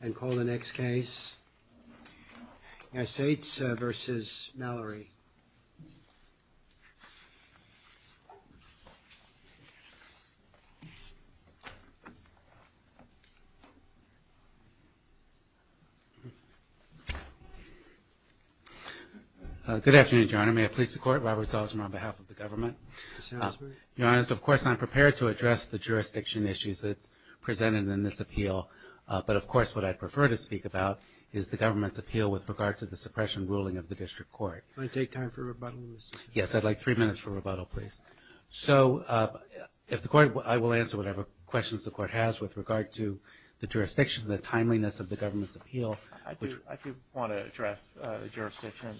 and call the next case United States versus Mallory good afternoon your honor may I please the court Robert Salzman on behalf of the government your honor of course I'm prepared to address the jurisdiction issues that's but of course what I prefer to speak about is the government's appeal with regard to the suppression ruling of the district court yes I'd like three minutes for rebuttal please so if the court I will answer whatever questions the court has with regard to the jurisdiction the timeliness of the government's appeal I do want to address the jurisdiction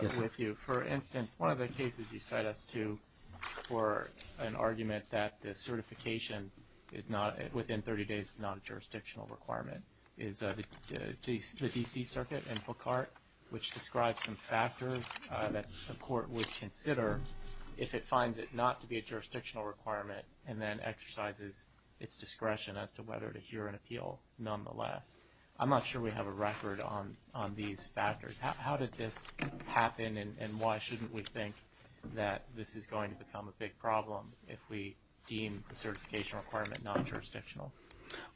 with you for instance one of the cases you cite us to for an argument that the certification is not within 30 days non-jurisdictional requirement is the DC circuit and book art which describes some factors that the court would consider if it finds it not to be a jurisdictional requirement and then exercises its discretion as to whether to hear an appeal nonetheless I'm not sure we have a record on on these factors how did this happen and why shouldn't we think that this is going to become a big problem if we deem the certification requirement non-jurisdictional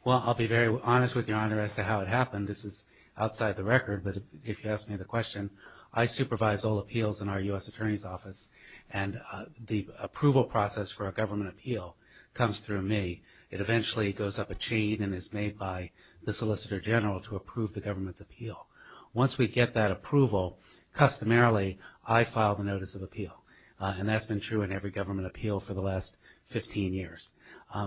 well I'll be very honest with your honor as to how it happened this is outside the record but if you ask me the question I supervise all appeals in our US Attorney's Office and the approval process for a government appeal comes through me it eventually goes up a chain and is made by the Solicitor General to approve the government's appeal once we get that approval customarily I filed a notice of appeal and that's been true in every government appeal for the last 15 years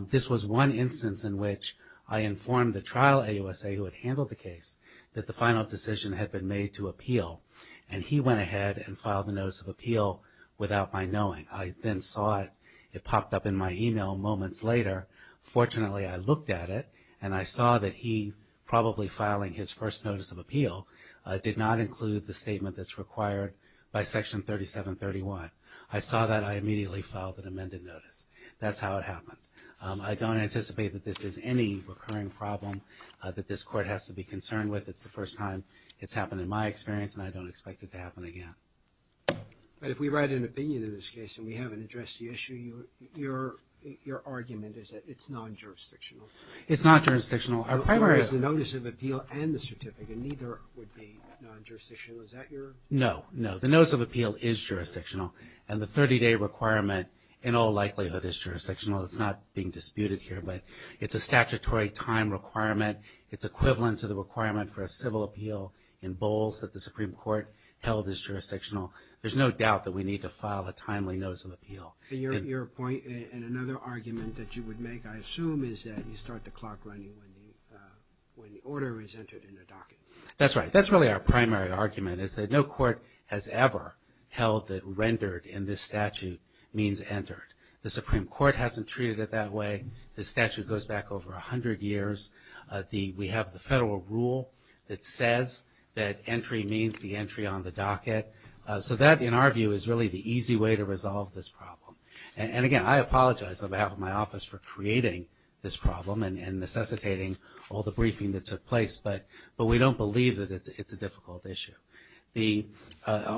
this was one instance in which I informed the trial AUSA who had handled the case that the final decision had been made to appeal and he went ahead and filed a notice of appeal without my knowing I then saw it popped up in my email moments later fortunately I looked at it and I saw that he probably filing his first notice of appeal did not that's how it happened I don't anticipate that this is any recurring problem that this court has to be concerned with it's the first time it's happened in my experience and I don't expect it to happen again but if we write an opinion in this case and we haven't addressed the issue you your argument is that it's non-jurisdictional it's not jurisdictional our primary is the notice of appeal and the certificate neither would be non-jurisdictional is that your no no the notice of appeal is jurisdictional and the 30-day requirement in all likelihood is jurisdictional it's not being disputed here but it's a statutory time requirement it's equivalent to the requirement for a civil appeal in bowls that the Supreme Court held is jurisdictional there's no doubt that we need to file a timely notice of appeal your point and another argument that you would make I assume is that you start the clock running when the order is entered in the docket that's right that's really our primary argument is that no court has ever held that rendered in this statute means entered the Supreme Court hasn't treated it that way the statute goes back over a hundred years the we have the federal rule that says that entry means the entry on the docket so that in our view is really the easy way to resolve this problem and again I apologize on behalf of my office for creating this problem and necessitating all the briefing that took place but but we don't believe that it's a difficult issue the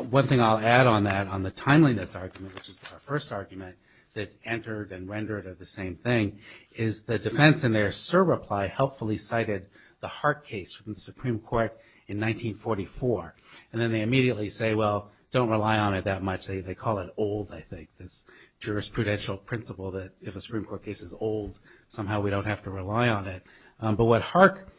one thing I'll add on that on the timeliness argument which is our first argument that entered and rendered of the same thing is the defense in their sir reply helpfully cited the heart case from the Supreme Court in 1944 and then they immediately say well don't rely on it that much they call it old I think this jurisprudential principle that if a Supreme Court case is old somehow we don't have to rely on it but what Hark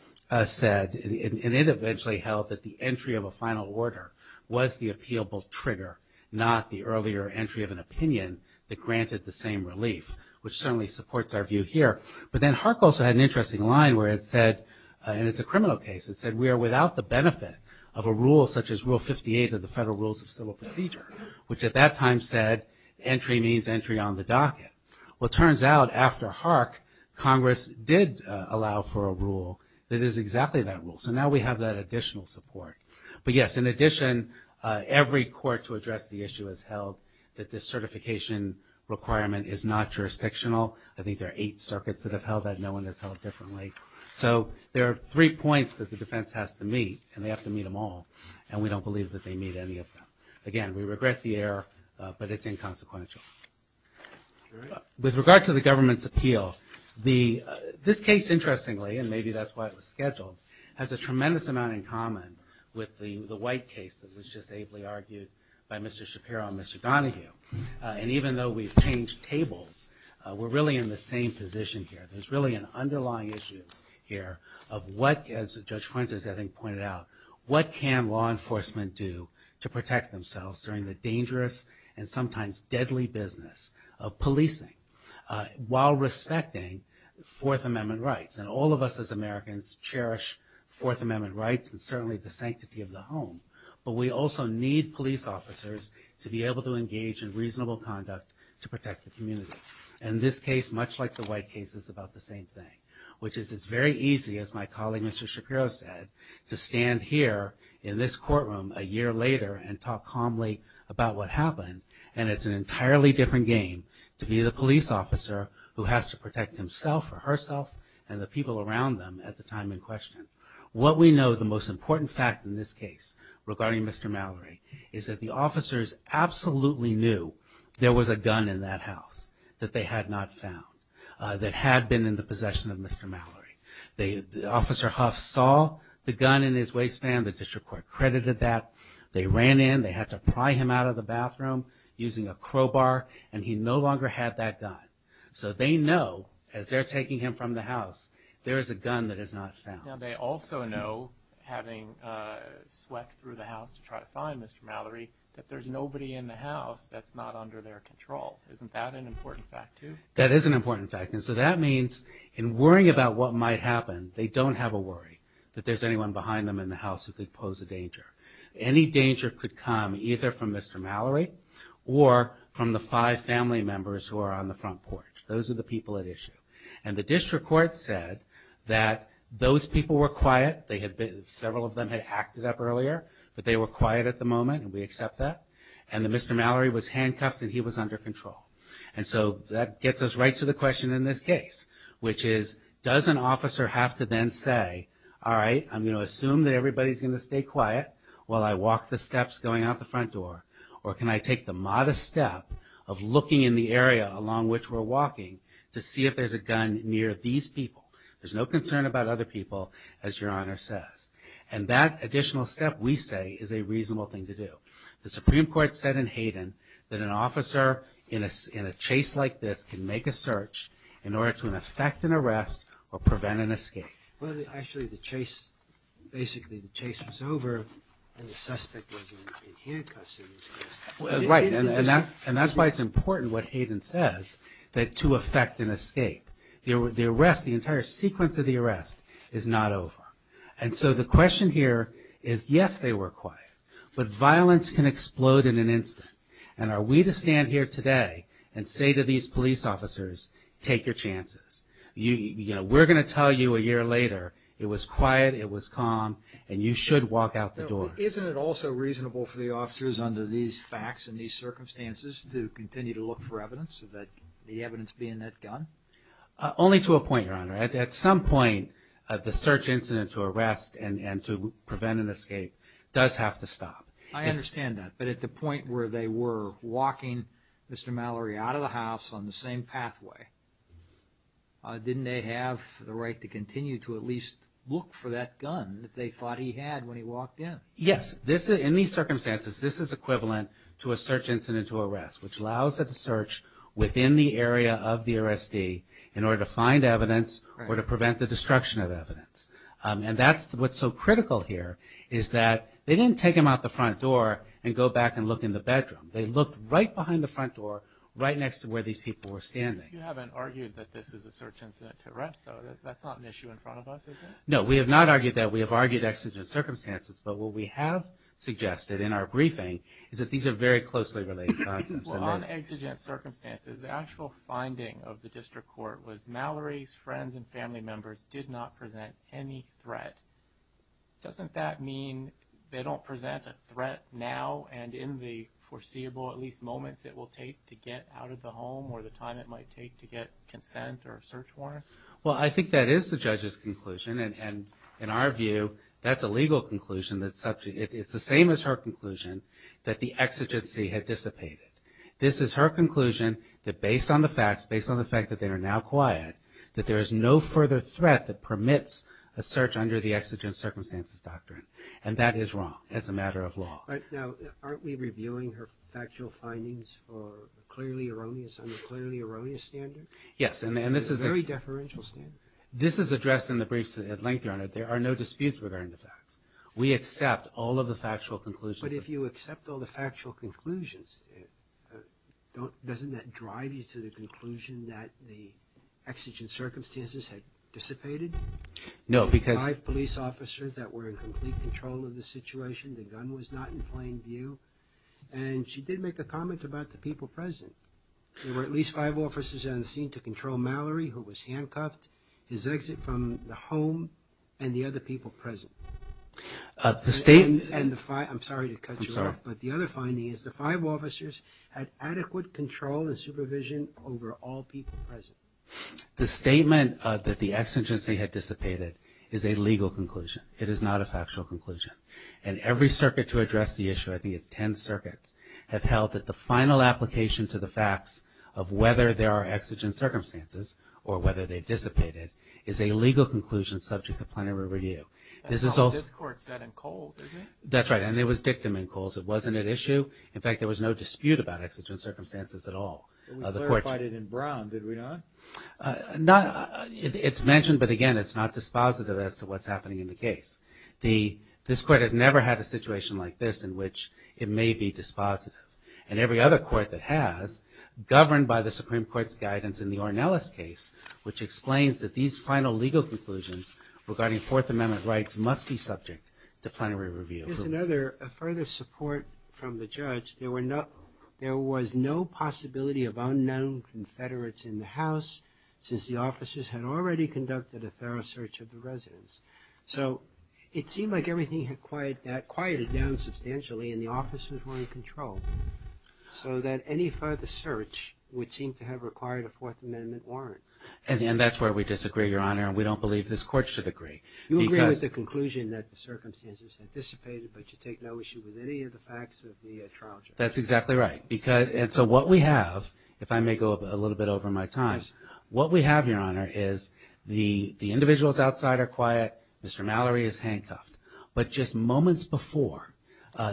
said and it eventually held that the entry of a final order was the appealable trigger not the earlier entry of an opinion that granted the same relief which certainly supports our view here but then Hark also had an interesting line where it said and it's a criminal case it said we are without the benefit of a rule such as rule 58 of the federal rules of civil procedure which at that time said entry means entry on the docket well turns out after Hark Congress did allow for a rule that is exactly that rule so now we have that additional support but yes in addition every court to address the issue has held that this certification requirement is not jurisdictional I think there are eight circuits that have held that no one has held differently so there are three points that the defense has to meet and they have to meet them all and we don't believe that they meet any of them again we regret the error but it's consequential with regard to the government's appeal the this case interestingly and maybe that's why it was scheduled has a tremendous amount in common with the the white case that was just ably argued by mr. Shapiro mr. Donahue and even though we've changed tables we're really in the same position here there's really an underlying issue here of what as judge Frentz is having pointed out what can law enforcement do to protect themselves during the deadly business of policing while respecting Fourth Amendment rights and all of us as Americans cherish Fourth Amendment rights and certainly the sanctity of the home but we also need police officers to be able to engage in reasonable conduct to protect the community and this case much like the white case is about the same thing which is it's very easy as my colleague mr. Shapiro said to stand here in this courtroom a year later and talk calmly about what happened and it's an entirely different game to be the police officer who has to protect himself or herself and the people around them at the time in question what we know the most important fact in this case regarding mr. Mallory is that the officers absolutely knew there was a gun in that house that they had not found that had been in the possession of mr. Mallory they officer Huff saw the gun in his waistband the district court credited that they ran in they had to pry him out of the bathroom using a crowbar and he no longer had that gun so they know as they're taking him from the house there is a gun that is not found they also know having swept through the house to try to find mr. Mallory that there's nobody in the house that's not under their control isn't that an important fact too that is an important fact and so that means in worrying about what might happen they don't have a worry that there's anyone behind them in the house who could pose a danger any danger could come either from mr. Mallory or from the five family members who are on the front porch those are the people at issue and the district court said that those people were quiet they had been several of them had acted up earlier but they were quiet at the moment we accept that and the mr. Mallory was handcuffed and he was under control and so that gets us right to the question in this case which is does an officer have to then say all right I'm gonna assume that everybody's gonna stay quiet while I walk the steps going out the front door or can I take the modest step of looking in the area along which we're walking to see if there's a gun near these people there's no concern about other people as your honor says and that additional step we say is a reasonable thing to do the Supreme Court said in Hayden that an officer in a chase like this can make a threat to an effect an arrest or prevent an escape well actually the chase basically the chase was over right and that and that's why it's important what Hayden says that to affect an escape the arrest the entire sequence of the arrest is not over and so the question here is yes they were quiet but violence can explode in an instant and are we to stand here today and say to these police officers take your chances you know we're gonna tell you a year later it was quiet it was calm and you should walk out the door isn't it also reasonable for the officers under these facts and these circumstances to continue to look for evidence that the evidence being that gun only to a point your honor at some point at the search incident to arrest and and to prevent an escape does have to stop I understand that but at the point where they were walking mr. Mallory out of the house on the same pathway didn't they have the right to continue to at least look for that gun that they thought he had when he walked in yes this is in these circumstances this is equivalent to a search incident to arrest which allows it to search within the area of the arrestee in order to find evidence or to prevent the destruction of evidence and that's what's so critical here is that they didn't take him out the front door and go back and look in the bedroom they looked right behind the front door right next to where these people were standing you haven't argued that this is a search incident to arrest though that's not an issue in front of us is it? no we have not argued that we have argued exigent circumstances but what we have suggested in our briefing is that these are very closely related well on exigent circumstances the actual finding of the district court was Mallory's friends and family members did not present any threat doesn't that mean they don't present a threat now and in the foreseeable at least moments it will take to get out of the home or the time it might take to get consent or search warrant well I think that is the judge's conclusion and in our view that's a legal conclusion that subject it's the same as her conclusion that the exigency had dissipated this is her conclusion that based on the facts based on the fact that they are now quiet that there is no further threat that permits a exigent circumstances doctrine and that is wrong as a matter of law now aren't we reviewing her factual findings for clearly erroneous on a clearly erroneous standard yes and this is a very deferential standard this is addressed in the briefs at length your honor there are no disputes regarding the facts we accept all of the factual conclusions but if you accept all the factual conclusions doesn't that drive you to the conclusion that the exigent officers that were in complete control of the situation the gun was not in plain view and she did make a comment about the people present there were at least five officers on the scene to control Mallory who was handcuffed his exit from the home and the other people present the state and the fire I'm sorry to cut you off but the other finding is the five officers had adequate control and supervision over all people present the statement that the exigency had dissipated is a legal conclusion it is not a factual conclusion and every circuit to address the issue I think it's 10 circuits have held that the final application to the facts of whether there are exigent circumstances or whether they dissipated is a legal conclusion subject to plenary review this is all this court said and cold that's right and it was dictum in calls it wasn't an issue in fact there was no dispute about exigent circumstances at all it's mentioned but again it's not dispositive as to what's happening in the case the this court has never had a situation like this in which it may be dispositive and every other court that has governed by the Supreme Court's guidance in the Ornelas case which explains that these final legal conclusions regarding Fourth Amendment rights must be subject to plenary review further support from the judge there were not there was no possibility of unknown Confederates in the house since the officers had already conducted a thorough search of the residents so it seemed like everything had quiet that quieted down substantially and the officers were in control so that any further search would seem to have required a Fourth Amendment warrant and then that's where we disagree your honor and we don't believe this court should agree with the conclusion that the circumstances anticipated but you take no issue with any of the facts of the trial that's exactly right because and so what we have if I may go a little bit over my times what we have your honor is the the individuals outside are quiet Mr. Mallory is handcuffed but just moments before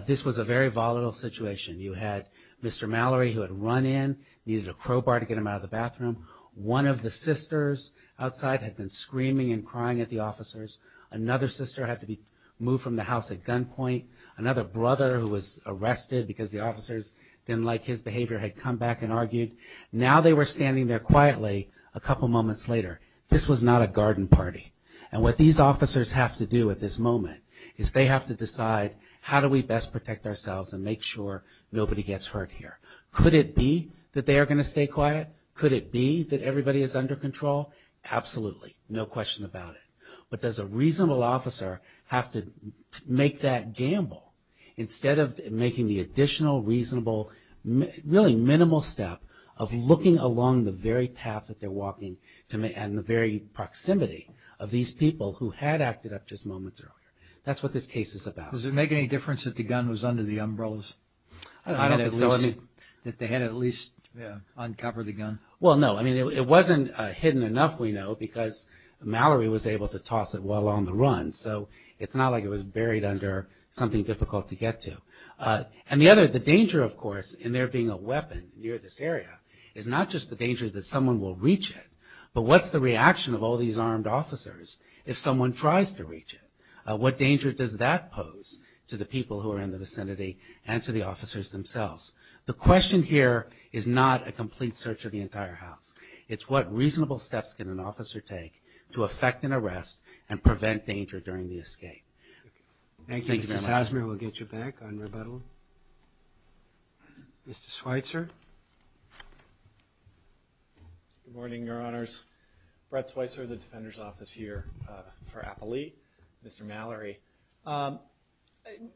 this was a very volatile situation you had Mr. Mallory who had run in needed a crowbar to get him out of the bathroom one of the sisters outside had been screaming and crying at the officers another sister had to be moved from the house at gunpoint another brother who was arrested because the officers didn't like his behavior had come back and argued now they were standing there quietly a couple moments later this was not a garden party and what these officers have to do at this moment is they have to decide how do we best protect ourselves and make sure nobody gets hurt here could it be that they're going to stay quiet could it be that everybody is under control absolutely no question about it but does a reasonable officer have to make that gamble instead of making the additional reasonable really minimal step of looking along the very path that they're walking to me and the very proximity of these people who had acted up just moments earlier that's what this case is about does it make any difference that the gun was under the umbrellas I don't think so I mean that they had at least uncovered the gun well no I mean it wasn't hidden enough we know because Mallory was able to toss it while on the run so it's not like it was buried under something difficult to get to and the other the danger of course in there being a weapon near this area is not just the danger that someone will reach it but what's the reaction of all these armed officers if someone tries to reach it what danger does that pose to the people who are in the vicinity and to the officers themselves the question here is not a complete search of the entire house it's what reasonable steps can an officer take to affect an arrest and prevent danger during the escape thank you Mr. Sazmier we'll get you back on rebuttal Mr. Schweitzer good morning your honors Brett Schweitzer the defenders office here for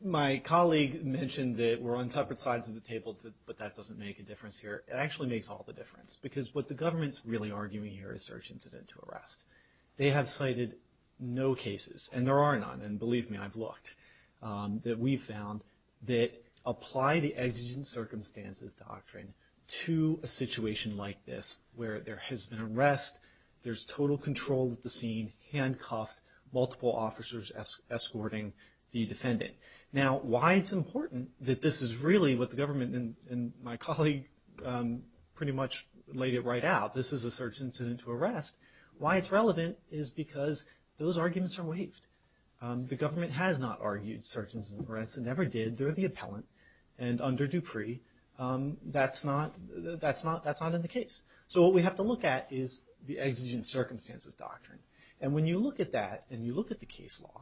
my colleague mentioned that we're on separate sides of the table but that doesn't make a difference here actually makes all the difference because what the government's really arguing here is search incident to arrest they have cited no cases and there are none and believe me I've looked that we found that apply the exigent circumstances doctrine to a situation like this where there has been arrest there's total control of the scene handcuffed multiple officers escorting the defendant now why it's important that this is really what the government and my colleague pretty much laid it right out this is a search incident to arrest why it's relevant is because those arguments are waived the government has not argued search and arrest and never did there the appellant and under Dupree that's not that's not that's not in the case so what we have to look at is the exigent circumstances doctrine and when you look at that and you look at the case law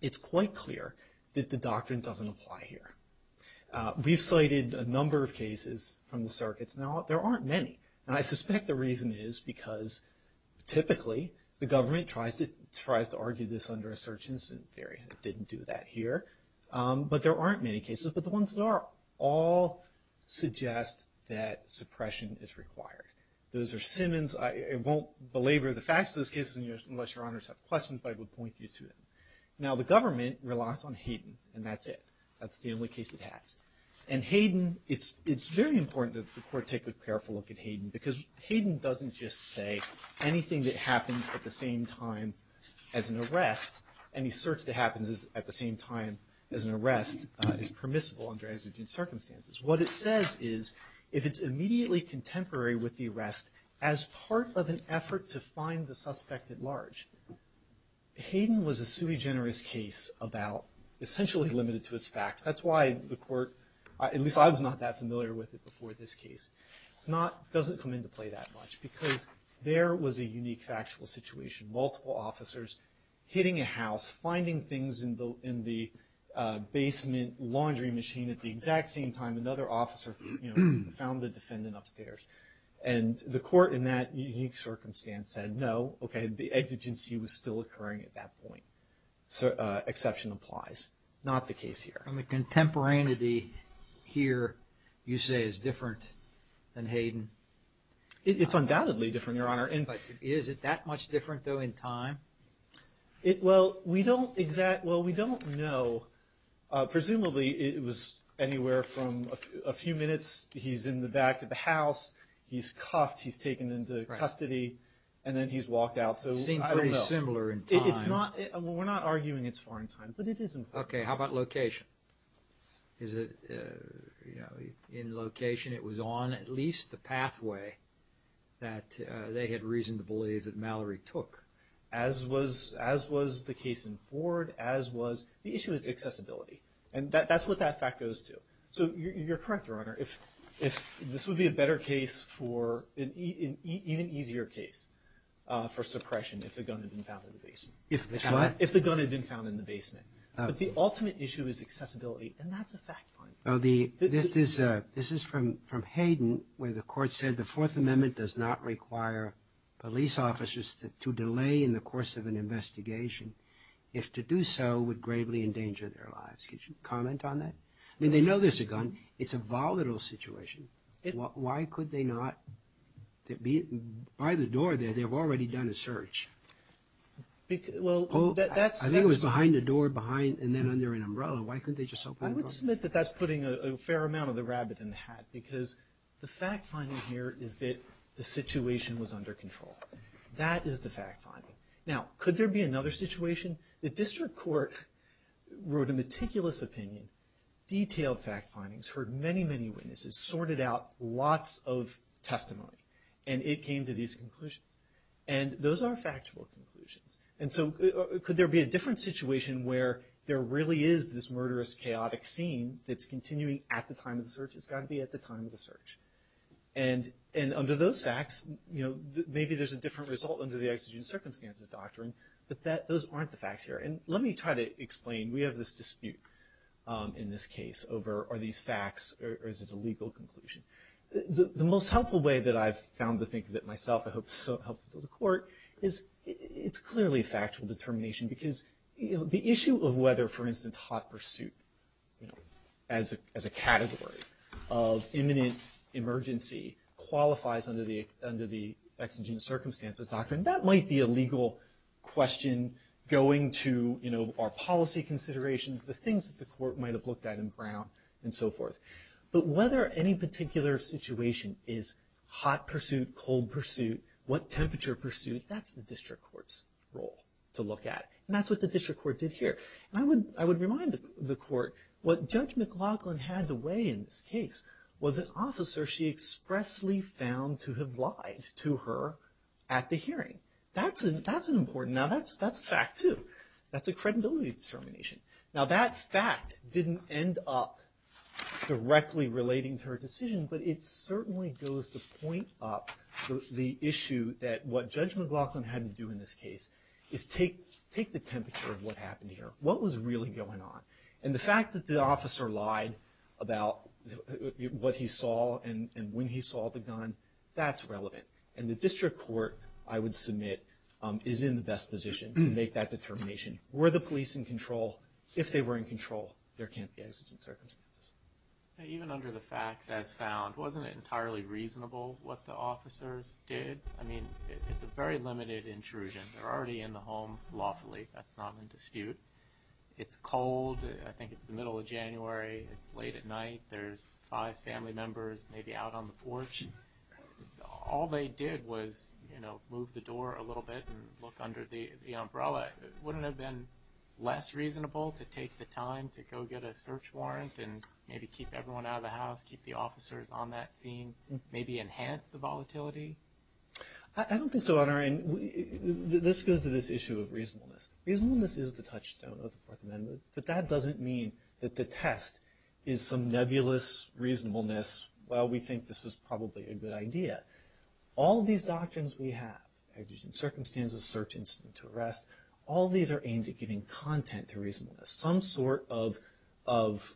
it's quite clear that the doctrine doesn't apply here we've cited a number of cases from the circuits now there aren't many and I suspect the reason is because typically the government tries to tries to argue this under a search incident theory didn't do that here but there aren't many cases but the ones that are all suggest that suppression is required those are Simmons I won't belabor the facts of this case in your unless your honors have questions but I would point you to it now the government relies on Hayden and that's it that's the only case it has and Hayden it's it's very important that the court take a careful look at Hayden because Hayden doesn't just say anything that happens at the same time as an arrest any search that happens is at the same time as an arrest is permissible under exigent circumstances what it says is if it's immediately contemporary with the arrest as part of an effort to find the suspect at large Hayden was a sui generis case about essentially limited to its facts that's why the court at least I was not that familiar with it before this case it's not doesn't come into play that much because there was a unique factual situation multiple officers hitting a house finding things in the in the basement laundry machine at the exact same time another officer found the defendant upstairs and the court in that unique circumstance said no okay the exigency was still occurring at that point so exception applies not the case here I'm a contemporaneity here you say is different than Hayden it's undoubtedly different your honor and but is it that much different though in time it well we don't exact well we don't know presumably it was anywhere from a few minutes he's in the back of the house he's cuffed he's taken into custody and then he's walked out so similar it's not we're not arguing it's foreign time but it isn't okay how about location is it you know in location it was on at least the pathway that they had reason to believe that Mallory took as was as was the case in Ford as was the issue is accessibility and that that's what that fact goes to so you're correct your honor if if this would be a better case for an even easier case for suppression if the gun had been found in the basement if it's not if the gun had been found in the basement but the ultimate issue is accessibility and that's a fact oh the this is a this is from from Hayden where the court said the Fourth Amendment does not require police officers to delay in the course of an investigation if to do so would gravely endanger their lives could you on that I mean they know there's a gun it's a volatile situation it why could they not it be by the door there they've already done a search well that's I think it was behind the door behind and then under an umbrella why couldn't they just submit that that's putting a fair amount of the rabbit in the hat because the fact finding here is that the situation was under control that is the fact finding now could there be another situation the district court wrote a meticulous opinion detailed fact findings heard many many witnesses sorted out lots of testimony and it came to these conclusions and those are factual conclusions and so could there be a different situation where there really is this murderous chaotic scene that's continuing at the time of the search it's got to be at the time of the search and and under those facts you know maybe there's a different result under the exigent circumstances doctrine but that those aren't the facts here and let me try to explain we have this dispute in this case over are these facts or is it a legal conclusion the most helpful way that I've found to think of it myself I hope so help the court is it's clearly factual determination because you know the issue of whether for instance hot pursuit as a category of imminent emergency qualifies under the under the exigent circumstances doctrine that might be a the things that the court might have looked at in Brown and so forth but whether any particular situation is hot pursuit cold pursuit what temperature pursuit that's the district courts role to look at and that's what the district court did here and I would I would remind the court what judge McLaughlin had to weigh in this case was an officer she expressly found to have lied to her at the hearing that's an that's an important now that's that's a fact too that's a credibility determination now that fact didn't end up directly relating to her decision but it certainly goes to point up the issue that what judge McLaughlin had to do in this case is take take the temperature of what happened here what was really going on and the fact that the officer lied about what he saw and when he saw the gun that's relevant and the district court I would submit is in the best position to make that determination were the police in control if they were in control there can't be exigent circumstances even under the facts as found wasn't it entirely reasonable what the officers did I mean it's a very limited intrusion they're already in the home lawfully that's not been disputed it's cold I think it's the middle of January it's late at night there's five family members maybe out on the porch all they did was you know move the door a little bit and look under the umbrella wouldn't have been less reasonable to take the time to go get a search warrant and maybe keep everyone out of the house keep the officers on that scene maybe enhance the volatility I don't think so on our end this goes to this issue of reasonableness reasonableness is the touchstone of the Fourth Amendment but that doesn't mean that the test is some nebulous reasonableness well we think this was probably a good idea all these doctrines we have I've used in circumstances search incident to arrest all these are aimed at giving content to reasonableness some sort of of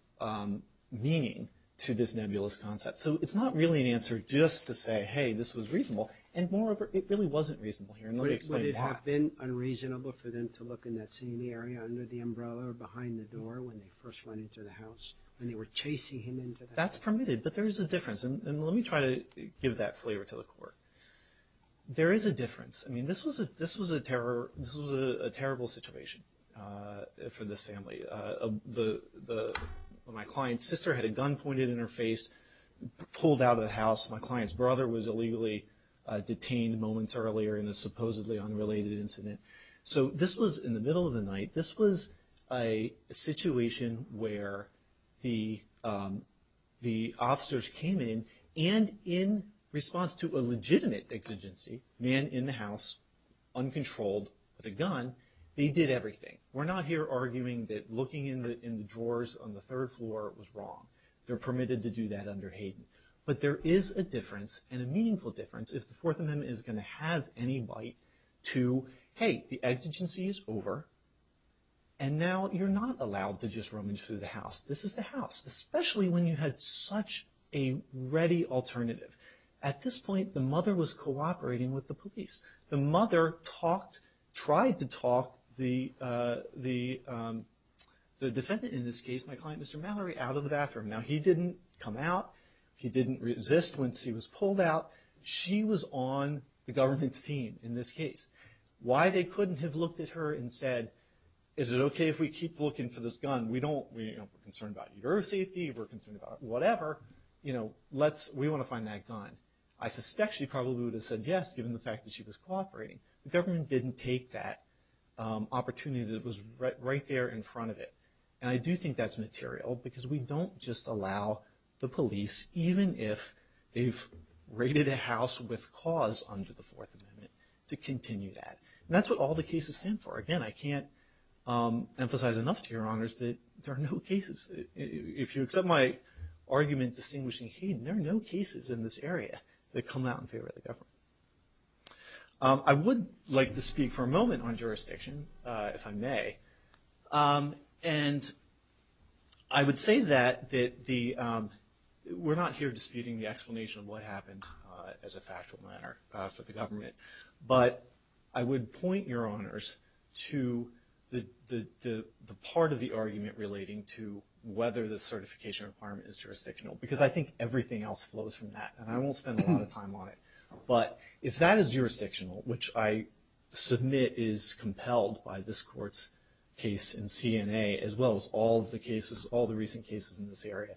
meaning to this nebulous concept so it's not really an answer just to say hey this was reasonable and moreover it really wasn't reasonable here no you have been unreasonable for them to look in that scene the area under the umbrella or behind the door when they first went into the house and they were chasing him into that's permitted but there is a difference and let me try to give that flavor to the court there is a difference I mean this was a this was a terror this was a terrible situation for this family the my client's sister had a gun pointed in her face pulled out of the house my client's brother was illegally detained moments earlier in a supposedly unrelated incident so this was in the middle of the night this was a situation where the the officers came in and in response to a legitimate exigency man in the house uncontrolled with a gun they did everything we're not here arguing that looking in the in the drawers on the third floor it was wrong they're permitted to do that under Hayden but there is a difference and a meaningful difference if the Fourth Amendment is going to have any bite to the exigency is over and now you're not allowed to just rummage through the house this is the house especially when you had such a ready alternative at this point the mother was cooperating with the police the mother talked tried to talk the the defendant in this case my client mr. Mallory out of the bathroom now he didn't come out he didn't resist when she was pulled out she was on the team in this case why they couldn't have looked at her and said is it okay if we keep looking for this gun we don't we don't concern about your safety we're concerned about whatever you know let's we want to find that gun I suspect she probably would have said yes given the fact that she was cooperating the government didn't take that opportunity that was right there in front of it and I do think that's material because we don't just allow the police even if they've raided a house with cause under the Fourth Amendment to continue that that's what all the cases stand for again I can't emphasize enough to your honors that there are no cases if you accept my argument distinguishing hey there are no cases in this area that come out in favor of the government I would like to speak for a moment on jurisdiction if I may and I would say that that the we're not here disputing the explanation of what happened as a factual matter for the government but I would point your honors to the the part of the argument relating to whether the certification requirement is jurisdictional because I think everything else flows from that and I won't spend a lot of time on it but if that is jurisdictional which I submit is compelled by this courts case in CNA as well as all the cases all the recent cases in this area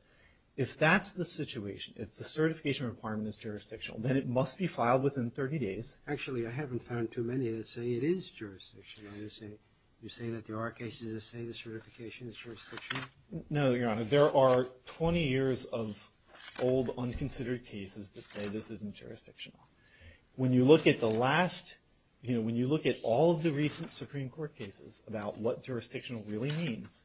if that's the situation if the certification requirement is jurisdictional then it must be filed within 30 days actually I haven't found too many that say it is jurisdiction I would say you say that there are cases that say the certification is jurisdiction no your honor there are 20 years of old unconsidered cases that say this isn't jurisdictional when you look at the last you know when you look at all of the recent Supreme Court cases about what jurisdictional really means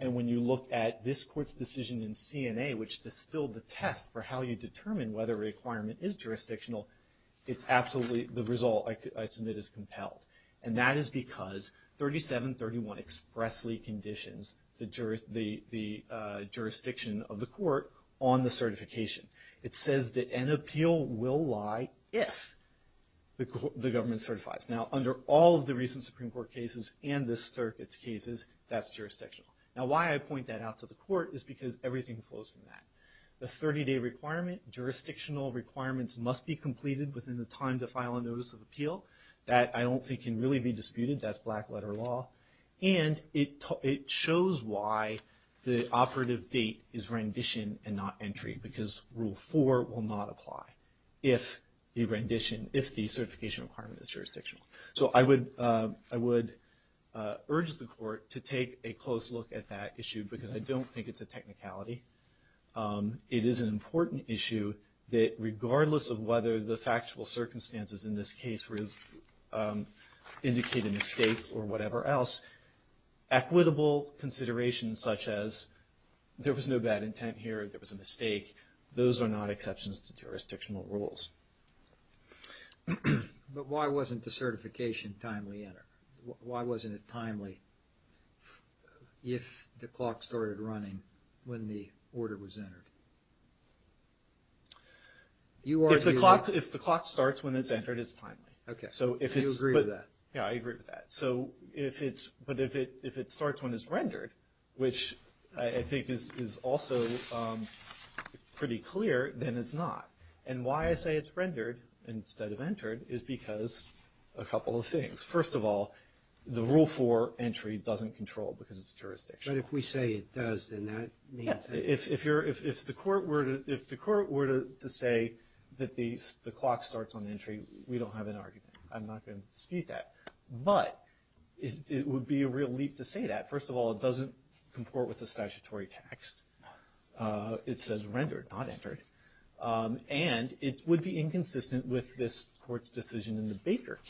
and when you look at this court's decision in CNA which distilled the test for how you determine whether requirement is jurisdictional it's absolutely the result I submit is compelled and that is because 3731 expressly conditions the jury the the jurisdiction of the court on the certification it says that an appeal will lie if the government certifies now under all of the recent Supreme Court cases and this circuits cases that's jurisdictional now why I point that out to the court is because everything flows from that the 30-day requirement jurisdictional requirements must be completed within the time to file a notice of appeal that I don't think can really be disputed that's black-letter law and it shows why the operative date is rendition and not entry because rule 4 will not apply if the rendition if the certification requirement is jurisdictional so I would I would urge the court to take a close look at that issue because I don't think it's a technicality it is an important issue that regardless of whether the factual circumstances in this case really indicate a mistake or whatever else equitable considerations such as there was no bad intent here there was a mistake those are not exceptions to jurisdictional rules but why wasn't the certification timely enter why wasn't it timely if the clock started running when the order was entered you are the clock if the clock starts when it's entered it's timely okay so if you agree with that yeah I agree with that so if it's but if it if it starts when it's rendered which I think this is also pretty clear then it's not and why I say it's rendered instead of entered is because a couple of things first of all the rule for entry doesn't control because it's jurisdiction if we say it does then that if you're if the court were to if the court were to say that these the clock starts on entry we don't have an argument I'm not going to dispute that but it would be a real leap to say that first of all it doesn't comport with the statutory text it says rendered not entered and it would be inconsistent with this court's decision in the Baker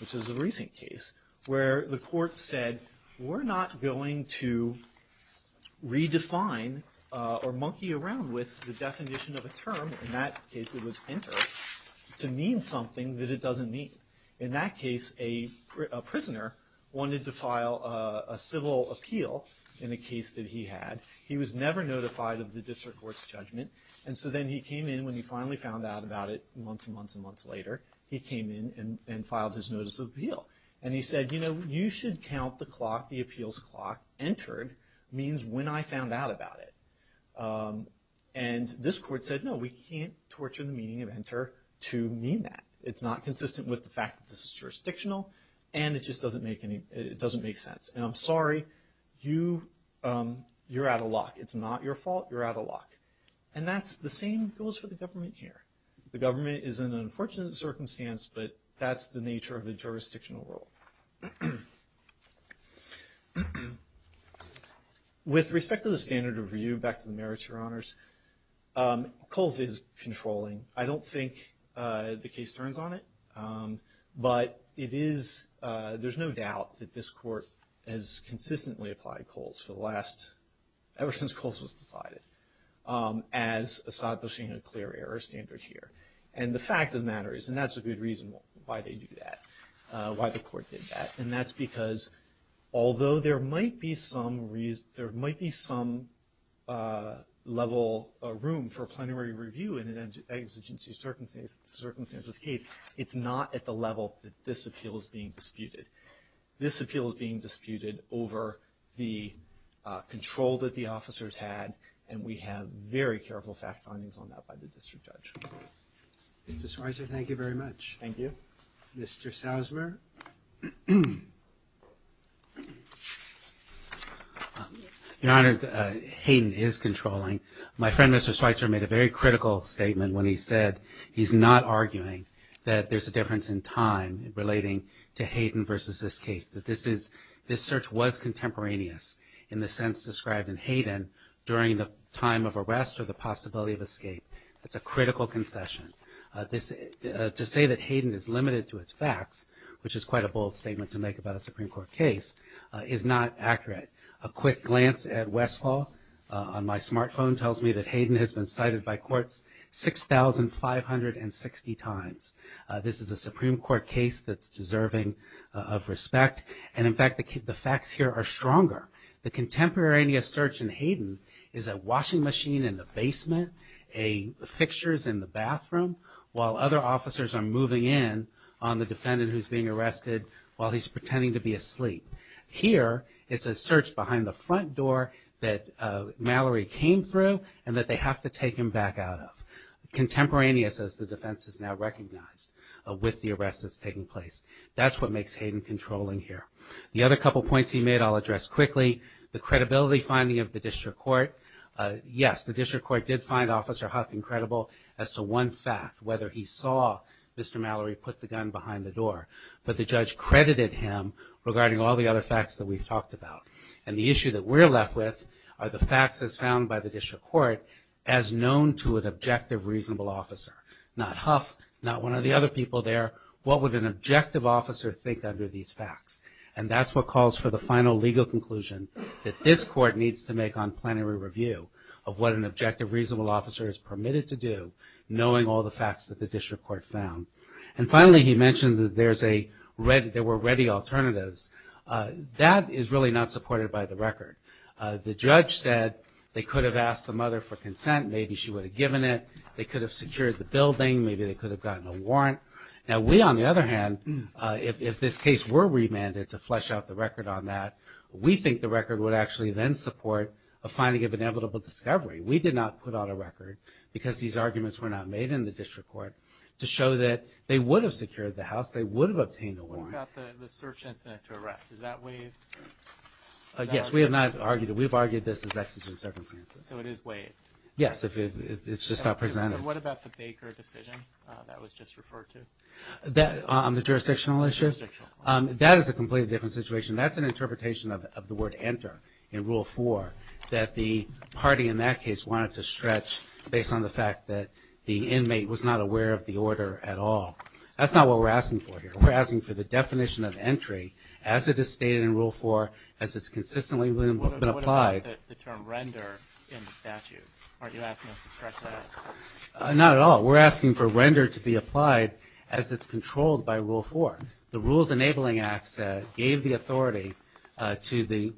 which is a recent case where the court said we're not going to redefine or monkey around with the definition of a term in that case it was entered to mean something that it doesn't mean in that case a prisoner wanted to file a civil appeal in a case that he had he was never notified of the district court's judgment and so then he came in when he finally found out about it months and filed his notice of appeal and he said you know you should count the clock the appeals clock entered means when I found out about it and this court said no we can't torture the meaning of enter to mean that it's not consistent with the fact that this is jurisdictional and it just doesn't make any it doesn't make sense and I'm sorry you you're out of luck it's not your fault you're out of luck and that's the same goes for the government here the government is an unfortunate circumstance but that's the nature of the jurisdictional role with respect to the standard of review back to the merits your honors Kohl's is controlling I don't think the case turns on it but it is there's no doubt that this court has consistently applied Kohl's for the last ever since Kohl's was decided as establishing a clear error standard here and the fact of the matter is and that's a good reason why they do that why the court did that and that's because although there might be some reason there might be some level room for a plenary review in an exigency circumstances case it's not at the level that this appeal is being disputed this appeal is being disputed over the control that the officers had and we have very careful fact findings on that by the district judge mr. Spicer thank you very much thank you mr. Sousmer your honor Hayden is controlling my friend mr. Spicer made a very critical statement when he said he's not arguing that there's a difference in time relating to Hayden versus this case that this is this search was contemporaneous in the sense described in Hayden during the time of possibility of escape that's a critical concession this to say that Hayden is limited to its facts which is quite a bold statement to make about a Supreme Court case is not accurate a quick glance at Westfall on my smartphone tells me that Hayden has been cited by courts six thousand five hundred and sixty times this is a Supreme Court case that's deserving of respect and in fact the kid the facts here are stronger the contemporaneous search in Hayden is a washing machine in the basement a fixtures in the bathroom while other officers are moving in on the defendant who's being arrested while he's pretending to be asleep here it's a search behind the front door that Mallory came through and that they have to take him back out of contemporaneous as the defense is now recognized with the arrests that's taking place that's what makes Hayden controlling here the other couple points he made I'll address quickly the credibility finding of the district court yes the district court did find officer Huff incredible as to one fact whether he saw Mr. Mallory put the gun behind the door but the judge credited him regarding all the other facts that we've talked about and the issue that we're left with are the facts as found by the district court as known to an objective reasonable officer not Huff not one of the other people there what would an objective officer think under these facts and that's what calls for the final legal conclusion that this court needs to make on plenary review of what an objective reasonable officer is permitted to do knowing all the facts that the district court found and finally he mentioned that there's a red there were ready alternatives that is really not supported by the record the judge said they could have asked the mother for consent maybe she would have given it they could have secured the building maybe they could have gotten a warrant now we on the other hand if this case were remanded to flesh out the record on that we think the record would actually then support a finding of inevitable discovery we did not put on a record because these arguments were not made in the district court to show that they would have secured the house they would have obtained a warrant. What about the search incident to arrest, is that waived? Yes we have not argued that we've argued this is exigent circumstances. So it is waived? Yes if it's just not presented. What about the Baker decision that was just referred to? On the jurisdictional issue? That is a completely different situation that's an interpretation of the word enter in rule four that the party in that case wanted to stretch based on the fact that the inmate was not aware of the order at all that's not what we're asking for here we're asking for the definition of entry as it is stated in the statute. Not at all we're asking for render to be applied as it's controlled by rule four the rules enabling acts gave the authority to the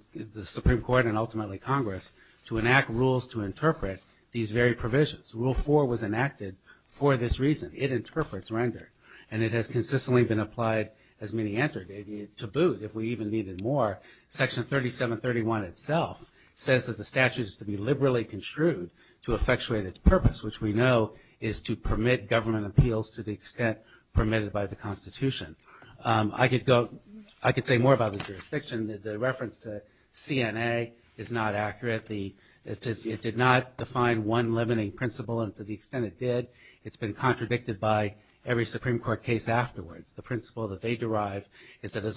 Supreme Court and ultimately Congress to enact rules to interpret these very provisions rule four was enacted for this reason it interprets render and it has consistently been applied as many entered to boot if we even needed more section 3731 itself says that the statute is to be liberally construed to effectuate its purpose which we know is to permit government appeals to the extent permitted by the Constitution I could go I could say more about the jurisdiction the reference to CNA is not accurate the it did not define one limiting principle and to the extent it did it's been contradicted by every Supreme Court case afterwards the principle that they derive is that as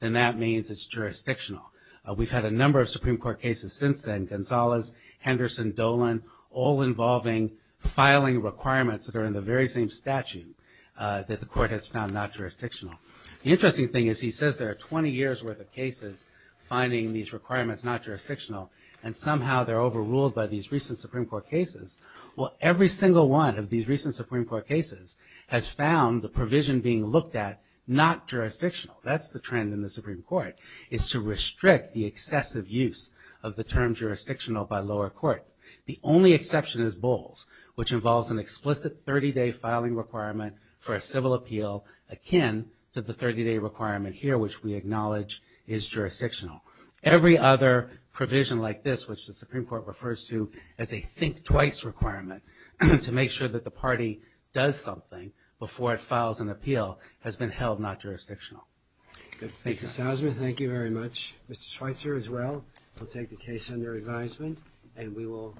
then that means it's jurisdictional we've had a number of Supreme Court cases since then Gonzalez Henderson Dolan all involving filing requirements that are in the very same statute that the court has found not jurisdictional the interesting thing is he says there are 20 years worth of cases finding these requirements not jurisdictional and somehow they're overruled by these recent Supreme Court cases well every single one of these recent Supreme Court cases has found the provision being looked at not jurisdictional that's the trend in the Supreme Court is to restrict the excessive use of the term jurisdictional by lower court the only exception is Bowles which involves an explicit 30-day filing requirement for a civil appeal akin to the 30-day requirement here which we acknowledge is jurisdictional every other provision like this which the Supreme Court refers to as a think twice requirement to make sure that the party does something before it files an appeal has been held not jurisdictional thank you thank you very much mr. Schweitzer as well we'll take the case under advisement and we will